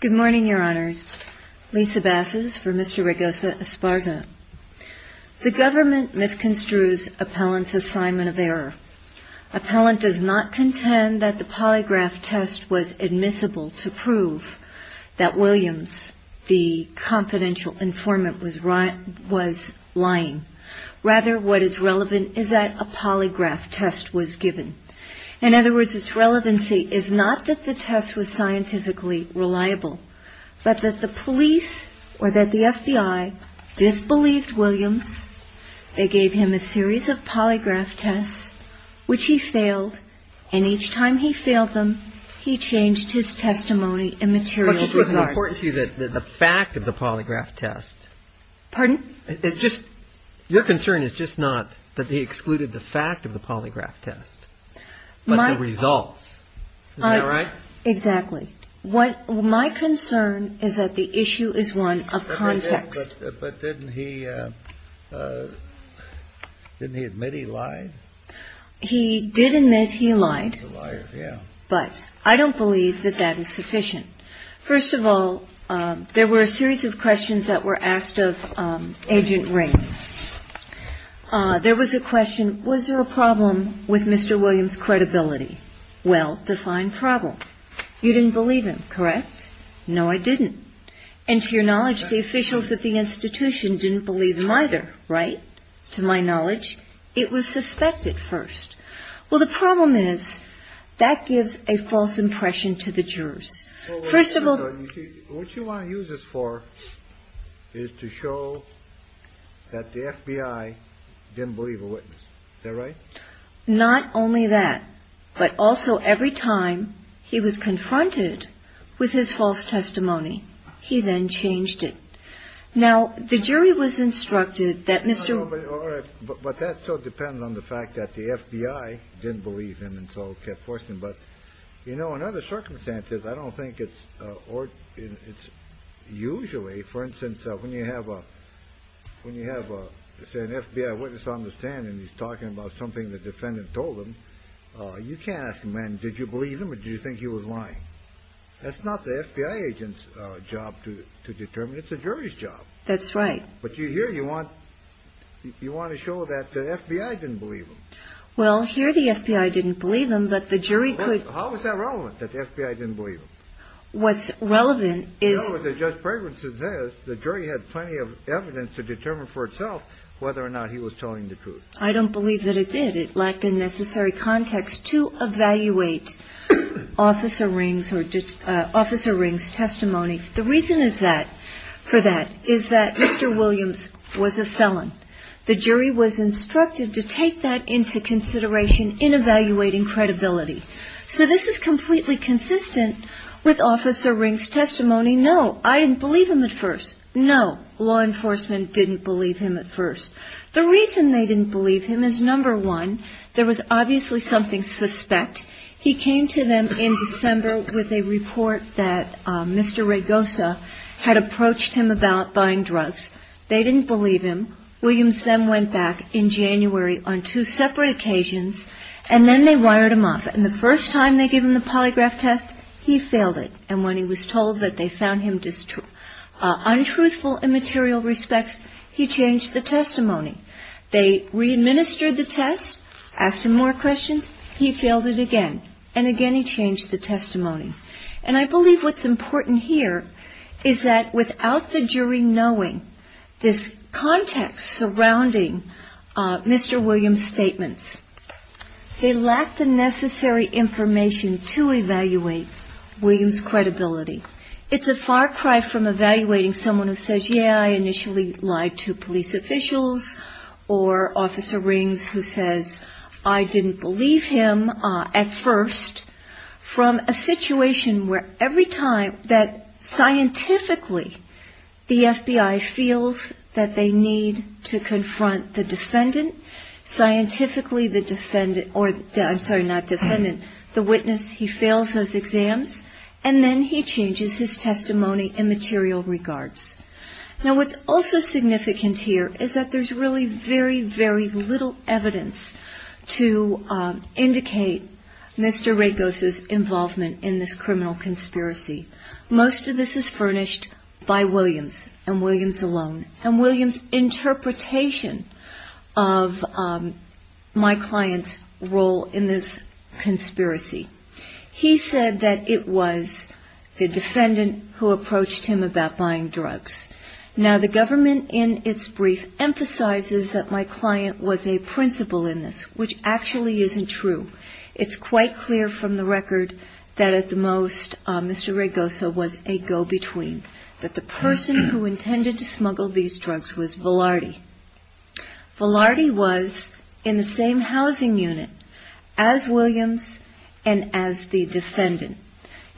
Good morning, Your Honors. Lisa Basses for Mr. Raygosa-Esparza. The government misconstrues appellant's assignment of error. Appellant does not contend that the polygraph test was admissible to prove that Williams, the confidential informant, was lying. Rather, what is relevant is that a polygraph test was given. In other words, its relevancy is not that the test was scientifically reliable, but that the police, or that the FBI, disbelieved Williams. They gave him a series of polygraph tests, which he failed, and each time he failed them, he changed his testimony in material regards. What is important to you is that the fact of the polygraph test... Pardon? Your concern is just not that they excluded the fact of the polygraph test, but the result itself. Isn't that right? Exactly. My concern is that the issue is one of context. But didn't he admit he lied? He did admit he lied, but I don't believe that that is sufficient. First of all, there were a series of questions that were asked of Agent Ray. There was a question, was there a problem with Mr. Williams' credibility? Well-defined problem. You didn't believe him, correct? No, I didn't. And to your knowledge, the officials at the institution didn't believe him either, right? To my knowledge, it was suspected first. Well, the problem is that gives a false impression to the jurors. First of all... What you want to use this for is to show that the FBI didn't believe a witness. Is that right? Not only that, but also every time he was confronted with his false testimony, he then changed it. Now, the jury was instructed that Mr. Williams... All right. But that still depends on the fact that the FBI didn't believe him and so kept forcing him. But, you know, in other circumstances, I don't think it's usually, for instance, when you have, say, an FBI witness on the stand and he's talking about something the defendant told him, you can't ask him, man, did you believe him or did you think he was lying? That's not the FBI agent's job to determine. It's the jury's job. That's right. But here you want to show that the FBI didn't believe him. Well, here the FBI didn't believe him, but the jury could... How is that relevant, that the FBI didn't believe him? What's relevant is... The jury had plenty of evidence to determine for itself whether or not he was telling the truth. I don't believe that it did. It lacked the necessary context to evaluate Officer Ring's testimony. The reason is that, for that, is that Mr. Williams was a felon. The jury was instructed to take that into consideration in evaluating credibility. So this is completely consistent with Officer Ring's testimony. No, I didn't believe him at first. No, law enforcement didn't believe him at first. The reason they didn't believe him is, number one, there was obviously something suspect. He came to them in December with a report that Mr. Raigosa had approached him about buying drugs. They didn't believe him. Williams then went back in January on two separate occasions and then they wired him off. And the first time they gave him the polygraph test, he failed it. And when he was told that they found him untruthful in material respects, he changed the testimony. They re-administered the test, asked him more questions, he failed it again. And again, he changed the testimony. And I believe what's important here is that without the jury knowing this context surrounding Mr. Williams' statements, they lack the necessary information to evaluate Williams' credibility. It's a far cry from evaluating someone who says, yeah, I initially lied to police officials or Officer Rings who says, I didn't believe him at first, from a situation where every time that scientifically the FBI feels that they need to confront the defendant, scientifically the witness, he fails those exams, and then he changes his testimony in material regards. Now what's also significant here is that there's really very, very little evidence to indicate Mr. Rakos' involvement in this criminal conspiracy. Most of this is furnished by Williams and Williams alone. And Williams' interpretation of my client's role in this conspiracy. He said that it was the defendant who approached him about buying drugs. Now the government in its brief emphasizes that my client was a principal in this, which actually isn't true. It's quite clear from the record that at the most Mr. Rakos' was a go-between, that the person who intended to smuggle these drugs was Velarde. Velarde was in the same housing unit as Williams and as the defendant.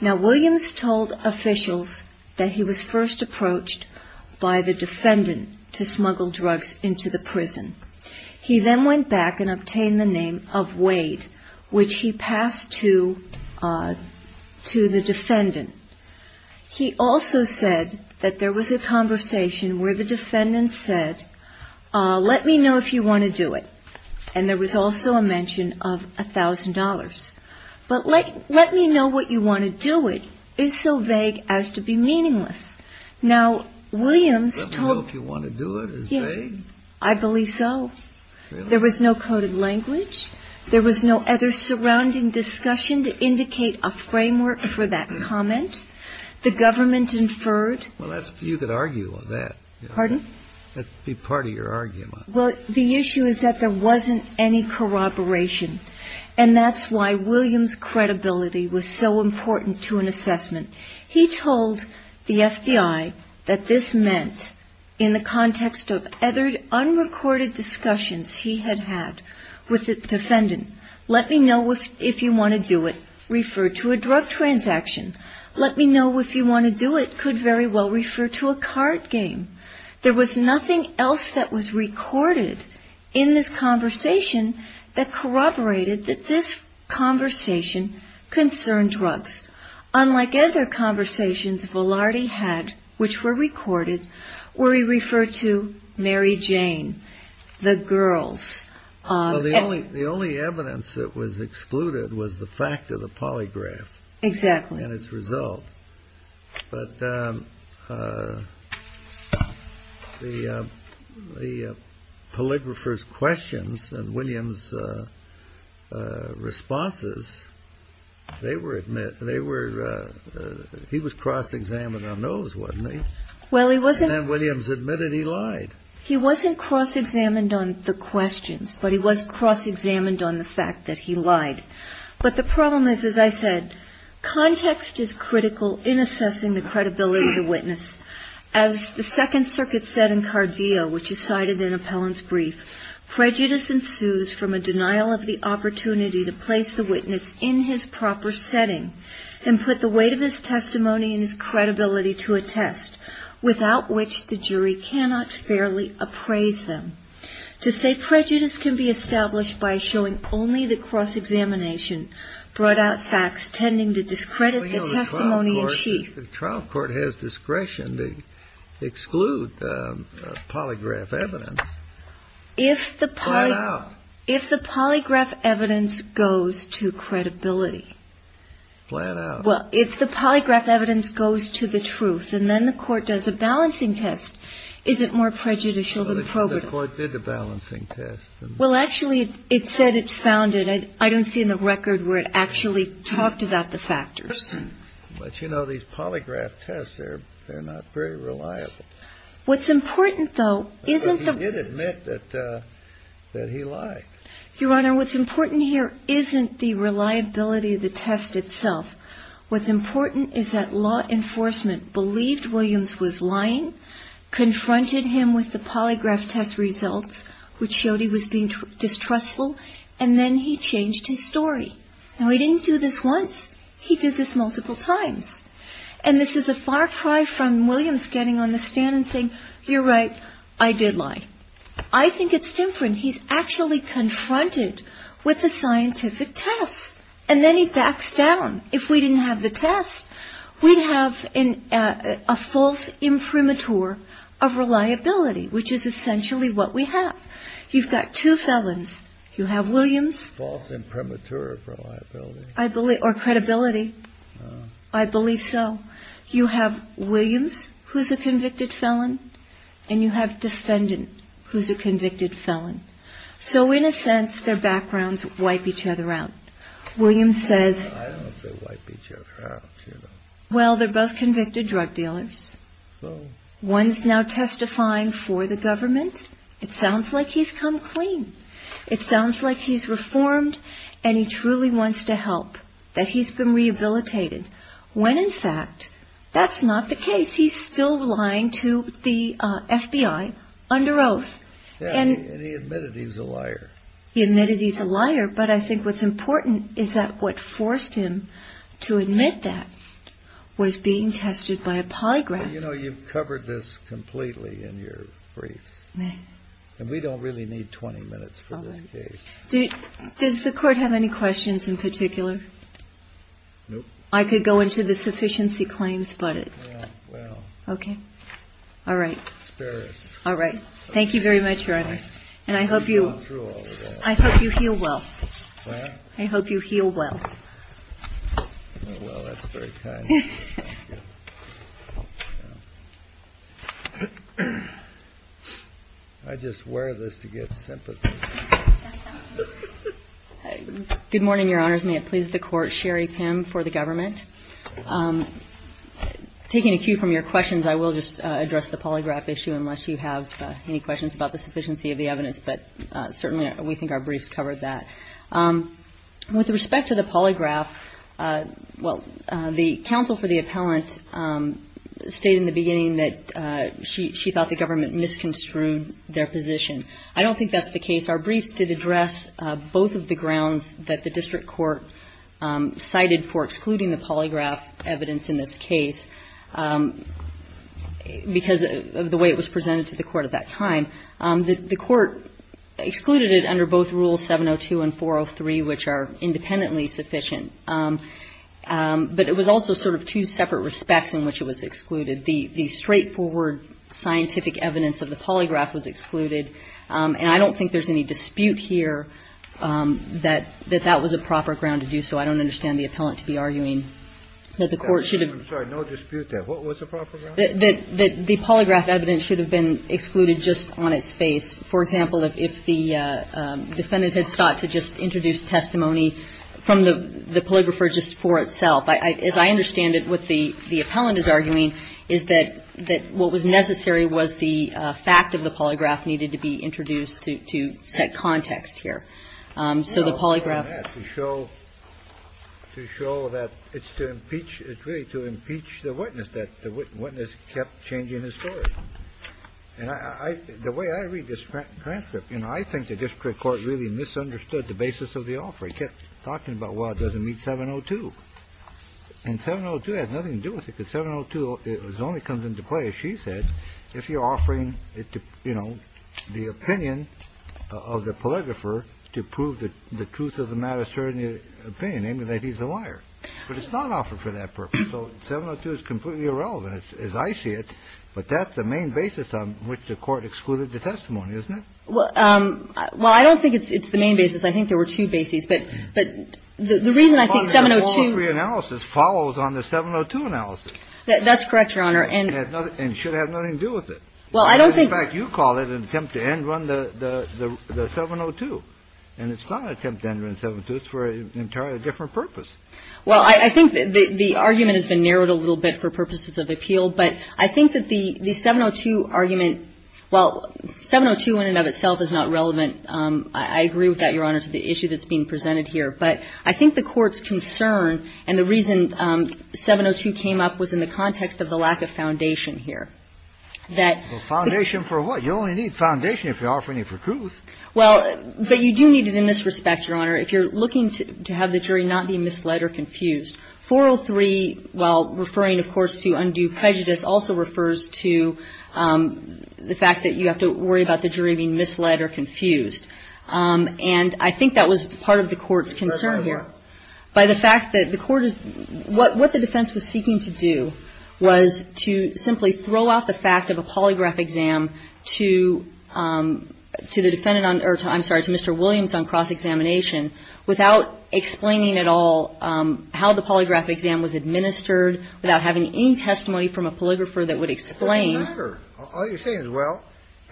Now Williams told officials that he was first to smuggle drugs into the prison. He then went back and obtained the name of Wade, which he passed to the defendant. He also said that there was a conversation where the defendant said, let me know if you want to do it. And there was also a mention of a thousand dollars. But let me know what you want to do. It is so vague as to be meaningless. Now Williams told. Let me know if you want to do it. Is it vague? Yes. I believe so. There was no coded language. There was no other surrounding discussion to indicate a framework for that comment. The government inferred. Well, that's, you could argue on that. Pardon? That'd be part of your argument. Well, the issue is that there wasn't any corroboration. And that's why Williams' credibility was so important to an assessment. He told the FBI that this meant in the context of other unrecorded discussions he had had with the defendant. Let me know if you want to do it. Refer to a drug transaction. Let me know if you want to do it. Could very well refer to a card game. There was nothing else that was recorded in this conversation that corroborated that this conversation concerned drugs. Unlike other conversations Velarde had, which were recorded, where he referred to Mary Jane, the girls. The only evidence that was excluded was the fact of the polygraph. Exactly. And its result. But the the polygrapher's questions and Williams' responses, they were admit, they were, he was cross-examined on those, wasn't he? Well, he wasn't. And then Williams admitted he lied. He wasn't cross-examined on the questions, but he was cross-examined on the fact that he lied. But the problem is, as I said, context is critical in assessing the credibility of the witness. As the Second Circuit said in Cardio, which is cited in Appellant's brief, prejudice ensues from a denial of the opportunity to place the witness in his proper setting and put the weight of his testimony and his credibility to a test without which the jury cannot fairly appraise them. To say prejudice can be established by showing only the cross-examination brought out facts tending to discredit the testimony in chief. The trial court has discretion to exclude polygraph evidence. If the polygraph evidence goes to credibility. Flat out. Well, if the polygraph evidence goes to the truth and then the court does a balancing test, is it more prejudicial than probative? Well, the court did the balancing test. Well, actually, it said it found it. I don't see in the record where it actually talked about the factors. But, you know, these polygraph tests, they're not very reliable. What's important, though, isn't the. He did admit that he lied. Your important here isn't the reliability of the test itself. What's important is that law enforcement believed Williams was lying, confronted him with the polygraph test results, which showed he was being distrustful. And then he changed his story. Now, he didn't do this once. He did this multiple times. And this is a far cry from Williams getting on the with the scientific test. And then he backs down. If we didn't have the test, we'd have a false imprimatur of reliability, which is essentially what we have. You've got two felons. You have Williams false imprimatur of reliability, I believe, or credibility. I believe so. You have Williams who's a convicted felon and you have defendant who's a convicted felon. So in a sense, their backgrounds wipe each other out. Williams says, well, they're both convicted drug dealers. One is now testifying for the government. It sounds like he's come clean. It sounds like he's reformed and he truly wants to help that he's been rehabilitated when in fact that's not the case. He's still lying to the FBI under oath. And he admitted he was a liar. He admitted he's a liar. But I think what's important is that what forced him to admit that was being tested by a polygraph. You know, you've covered this completely in your briefs. And we don't really need 20 minutes for this case. Does the court have any questions in particular? I could go into the sufficiency claims, but it well, OK. All right. All right. Thank you very much, Your Honor. And I hope you, I hope you heal well. I hope you heal well. Well, that's very kind of you. Thank you. I just wear this to get sympathy. Good morning, Your Honors. May it please the Court. Sherry Pim for the government. Taking a cue from your questions, I will just address the polygraph issue unless you have any questions about the sufficiency of the evidence. But certainly we think our briefs covered that. With respect to the polygraph, well, the counsel for the appellant stated in the beginning that she thought the government misconstrued their position. I don't think that's the case. Our briefs did address both of the grounds that the district court cited for excluding the polygraph evidence in this case because of the way it was presented to the court at that time. The court excluded it under both Rule 702 and 403, which are independently sufficient. But it was also sort of two separate respects in which it was excluded. The straightforward scientific evidence of the polygraph was excluded. And I don't think there's any dispute here that that was a proper ground to do so. I don't understand the appellant to be arguing that the court should have. I'm sorry. No dispute there. What was the proper ground? That the polygraph evidence should have been excluded just on its face. For example, if the defendant had sought to just introduce testimony from the polygrapher just for itself. As I understand it, what the appellant is arguing is that what was necessary was the fact of the polygraph needed to be introduced to set context here. So the polygraph. To show that it's to impeach, it's really to impeach the witness, that the witness kept changing his story. And the way I read this transcript, you know, I think the district court really misunderstood the basis of the offer. It kept talking about, well, it doesn't meet 702. And 702 has nothing to do with it because 702 only comes into play, as she said, if you're offering it to, you know, the opinion of the polygrapher to prove the truth of the matter, certain opinion, namely that he's a liar. But it's not offered for that purpose. So 702 is completely irrelevant, as I see it. But that's the main basis on which the court excluded the testimony, isn't it? Well, I don't think it's the main basis. I think there were two bases. But the reason I think 702 ---- The polygraph 103 analysis follows on the 702 analysis. That's correct, Your Honor. And should have nothing to do with it. Well, I don't think ---- In fact, you call it an attempt to end run the 702. And it's not an attempt to end run 702. It's for an entirely different purpose. Well, I think the argument has been narrowed a little bit for purposes of appeal. But I think that the 702 argument, well, 702 in and of itself is not relevant. I agree with that, Your Honor, to the issue that's being presented here. But I think the Court's concern and the reason 702 came up was in the context of the lack of foundation here. That ---- Foundation for what? You only need foundation if you're offering it for truth. Well, but you do need it in this respect, Your Honor. If you're looking to have the jury not be misled or confused, 403, while referring, of course, to undue prejudice, also refers to the fact that you have to worry about the jury being misled or confused. And I think that was part of the Court's concern here. By the fact that the Court is ---- What the defense was seeking to do was to simply throw out the fact of a polygraph exam to the defendant on ---- or, I'm sorry, to Mr. Williams on cross-examination without explaining at all how the polygraph exam was administered, without having any testimony from a polygrapher that would explain ---- It doesn't matter. All you're saying is, well,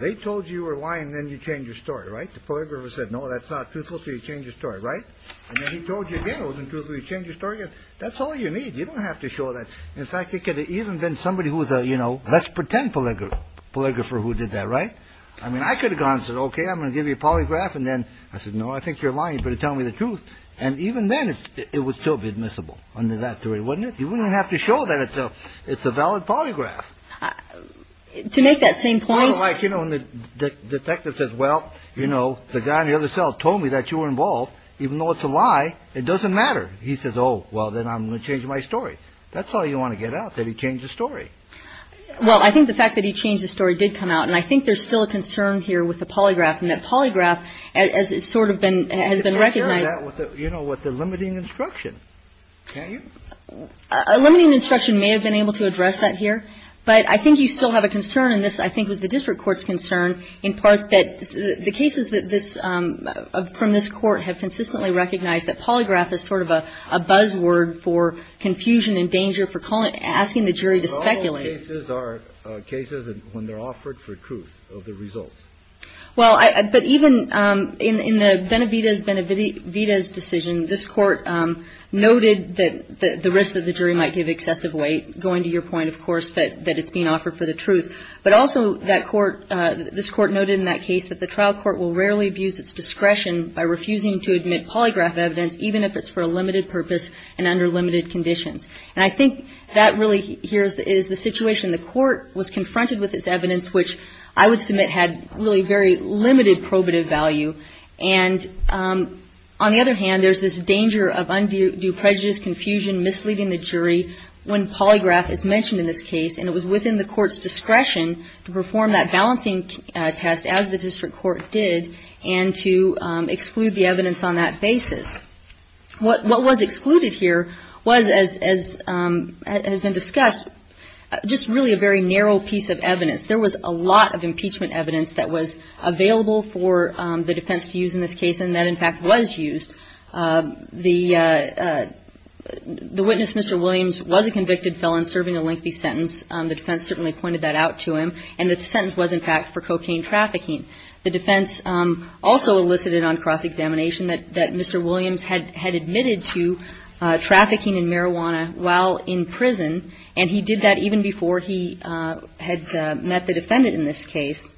they told you you were lying. Then you change your story, right? The polygrapher said, no, that's not truthful. So you change your story, right? And then he told you again it wasn't truthful. You change your story again. That's all you need. You don't have to show that. In fact, it could have even been somebody who was a, you know, let's pretend polygrapher who did that, right? I mean, I could have gone and said, okay, I'm going to give you a polygraph. And then I said, no, I think you're lying. You better tell me the truth. And even then, it would still be admissible under that theory, wouldn't it? You wouldn't have to show that it's a valid polygraph. To make that same point. Well, like, you know, when the detective says, well, you know, the guy in the other cell told me that you were involved. Even though it's a lie, it doesn't matter. He says, oh, well, then I'm going to change my story. That's all you want to get out, that he changed the story. Well, I think the fact that he changed the story did come out. And I think there's still a concern here with the polygraph, and that polygraph has sort of been, has been recognized. You know, with the limiting instruction, can't you? A limiting instruction may have been able to address that here. But I think you still have a concern, and this, I think, was the district court's concern, in part that the cases that this, from this Court have consistently recognized that polygraph is sort of a buzzword for confusion and danger, for calling it, asking the jury to speculate. But all cases are cases when they're offered for truth of the results. Well, but even in the Benavidez decision, this Court noted that the risk that the jury might give excessive weight, going to your point, of course, that it's being offered for the truth. But also that Court, this Court noted in that case that the trial court will rarely abuse its discretion by refusing to admit polygraph evidence, even if it's for a limited purpose and under limited conditions. And I think that really here is the situation. The Court was confronted with this evidence, which I would submit had really very limited probative value. And on the other hand, there's this danger of undue prejudice, confusion, misleading the jury, when polygraph is mentioned in this case. And it was within the Court's discretion to perform that balancing test, as the district court did, and to exclude the evidence on that basis. What was excluded here was, as has been discussed, just really a very narrow piece of evidence. There was a lot of impeachment evidence that was available for the defense to use in this case. And that, in fact, was used. The witness, Mr. Williams, was a convicted felon serving a lengthy sentence. The defense certainly pointed that out to him. And the sentence was, in fact, for cocaine trafficking. The defense also elicited on cross-examination that Mr. Williams had admitted to trafficking in marijuana while in prison. And he did that even before he had met the defendant in this case.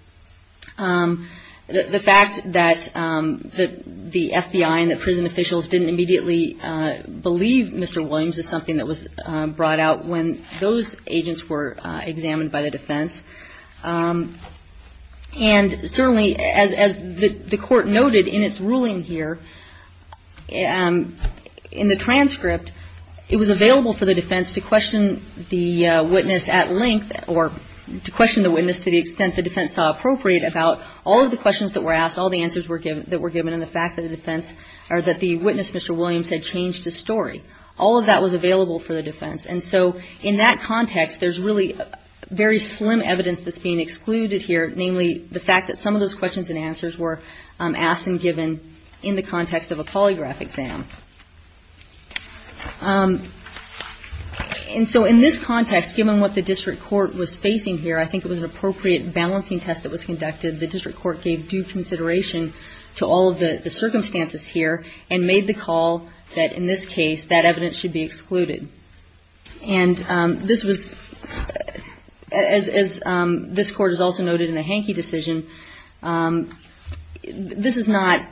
The fact that the FBI and the prison officials didn't immediately believe Mr. Williams is something that was brought out when those agents were examined by the defense. And certainly, as the Court noted in its ruling here, in the transcript, it was available for the defense to question the witness at length or to question the witness to the extent the defense saw appropriate about all of the questions that were asked, all the answers that were given, and the fact that the defense or that the witness, Mr. Williams, had changed his story. All of that was available for the defense. And so in that context, there's really very slim evidence that's being excluded here, namely the fact that some of those questions and answers were asked and given in the context of a polygraph exam. And so in this context, given what the district court was facing here, I think it was an appropriate balancing test that was conducted. The district court gave due consideration to all of the circumstances here and made the call that in this case that evidence should be excluded. And this was, as this Court has also noted in the Hanke decision, this is not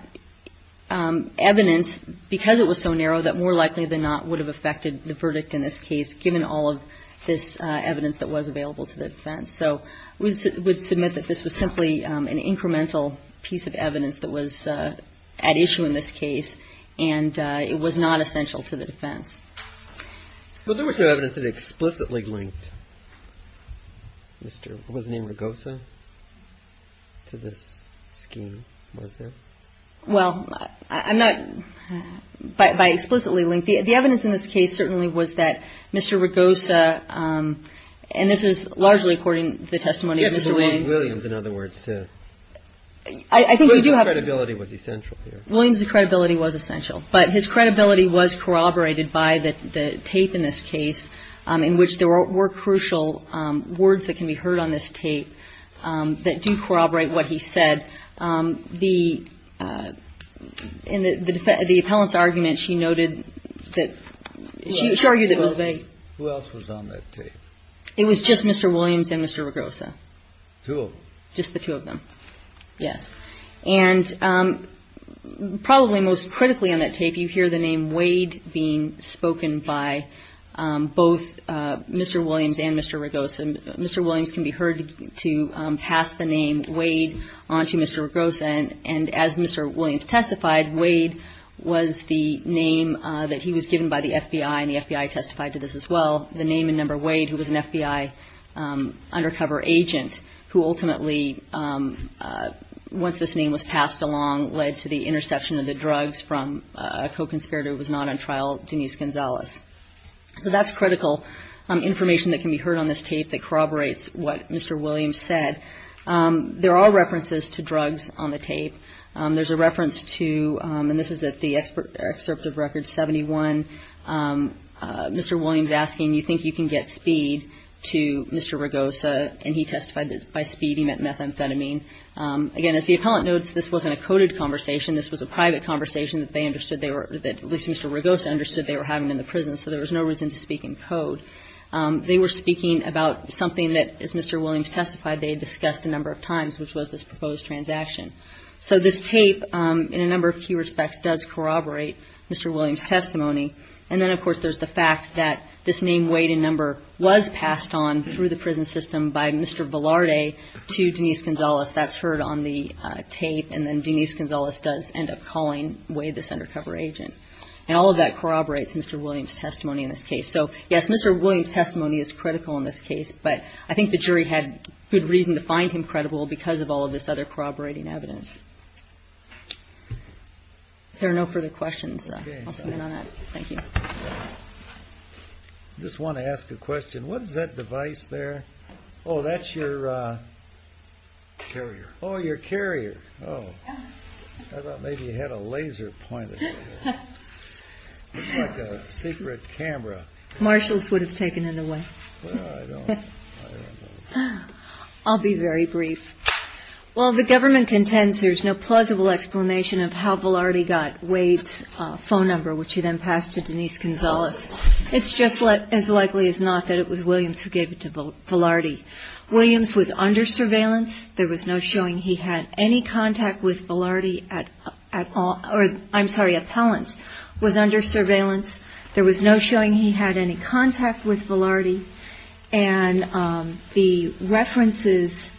evidence, because it was so narrow, that more likely than not would have affected the verdict in this case, given all of this evidence that was available to the defense. So we would submit that this was simply an incremental piece of evidence that was at issue in this case, and it was not essential to the defense. Well, there was no evidence that explicitly linked Mr. Wozniak-Ragosa to this scheme, was there? Well, I'm not by explicitly linked. The evidence in this case certainly was that Mr. Ragosa, and this is largely according to the testimony of Mr. Williams. Williams, in other words. I think we do have. Williams' credibility was essential here. Williams' credibility was essential. But his credibility was corroborated by the tape in this case, in which there were crucial words that can be heard on this tape that do corroborate what he said. In the appellant's argument, she noted that she argued that it was vague. Who else was on that tape? It was just Mr. Williams and Mr. Ragosa. Two of them? Just the two of them, yes. And probably most critically on that tape, you hear the name Wade being spoken by both Mr. Williams and Mr. Ragosa. Mr. Williams can be heard to pass the name Wade on to Mr. Ragosa, and as Mr. Williams testified, Wade was the name that he was given by the FBI, and the FBI testified to this as well, the name and number Wade, who was an FBI undercover agent who ultimately, once this name was passed along, led to the interception of the drugs from a co-conspirator who was not on trial, Denise Gonzalez. So that's critical information that can be heard on this tape that corroborates what Mr. Williams said. There are references to drugs on the tape. There's a reference to, and this is at the excerpt of Record 71, Mr. Williams asking, you think you can get speed to Mr. Ragosa? And he testified that by speed he meant methamphetamine. Again, as the appellant notes, this wasn't a coded conversation. This was a private conversation that they understood they were, at least Mr. Ragosa understood they were having in the prison, so there was no reason to speak in code. They were speaking about something that, as Mr. Williams testified, they had discussed a number of times, which was this proposed transaction. So this tape, in a number of key respects, does corroborate Mr. Williams' testimony. And then, of course, there's the fact that this name, weight, and number was passed on through the prison system by Mr. Velarde to Denise Gonzalez. That's heard on the tape, and then Denise Gonzalez does end up calling Wade this undercover agent. And all of that corroborates Mr. Williams' testimony in this case. So, yes, Mr. Williams' testimony is critical in this case, but I think the jury had good reason to find him credible because of all of this other corroborating evidence. If there are no further questions, I'll come in on that. Thank you. I just want to ask a question. What is that device there? Oh, that's your... Carrier. Oh, your carrier. Oh. I thought maybe you had a laser pointed at you. Looks like a secret camera. Marshals would have taken it away. Well, I don't know. I'll be very brief. Well, the government contends there's no plausible explanation of how Velarde got Wade's phone number, which he then passed to Denise Gonzalez. It's just as likely as not that it was Williams who gave it to Velarde. Williams was under surveillance. There was no showing he had any contact with Velarde at all. I'm sorry, appellant was under surveillance. There was no showing he had any contact with Velarde. And the references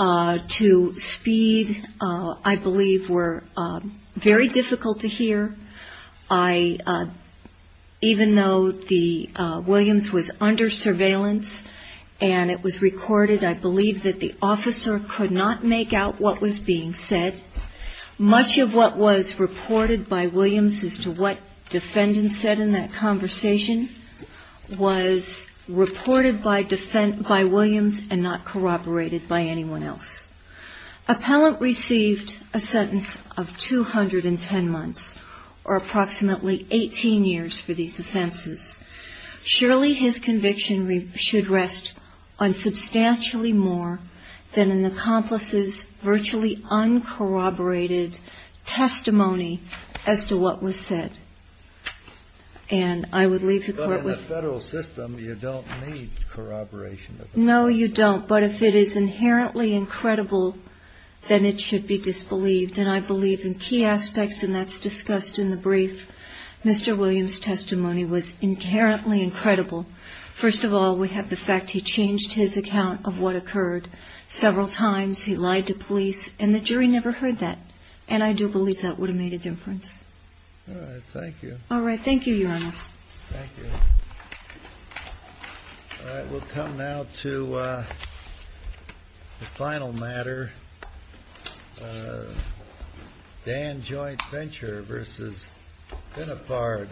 to speed, I believe, were very difficult to hear. Even though Williams was under surveillance and it was recorded, I believe that the officer could not make out what was being said. Much of what was reported by Williams as to what defendants said in that conversation was reported by Williams and not corroborated by anyone else. Appellant received a sentence of 210 months or approximately 18 years for these offenses. Surely his conviction should rest on substantially more than an accomplice's virtually uncorroborated testimony as to what was said. And I would leave the court with... But in the federal system, you don't need corroboration. No, you don't. But if it is inherently incredible, then it should be disbelieved. And I believe in key aspects, and that's discussed in the brief. Mr. Williams' testimony was inherently incredible. First of all, we have the fact he changed his account of what occurred several times. He lied to police. And the jury never heard that. And I do believe that would have made a difference. All right. Thank you. Thank you, Your Honors. Thank you. All right. We'll come now to the final matter, Dan Joint Venture v. Binnifard.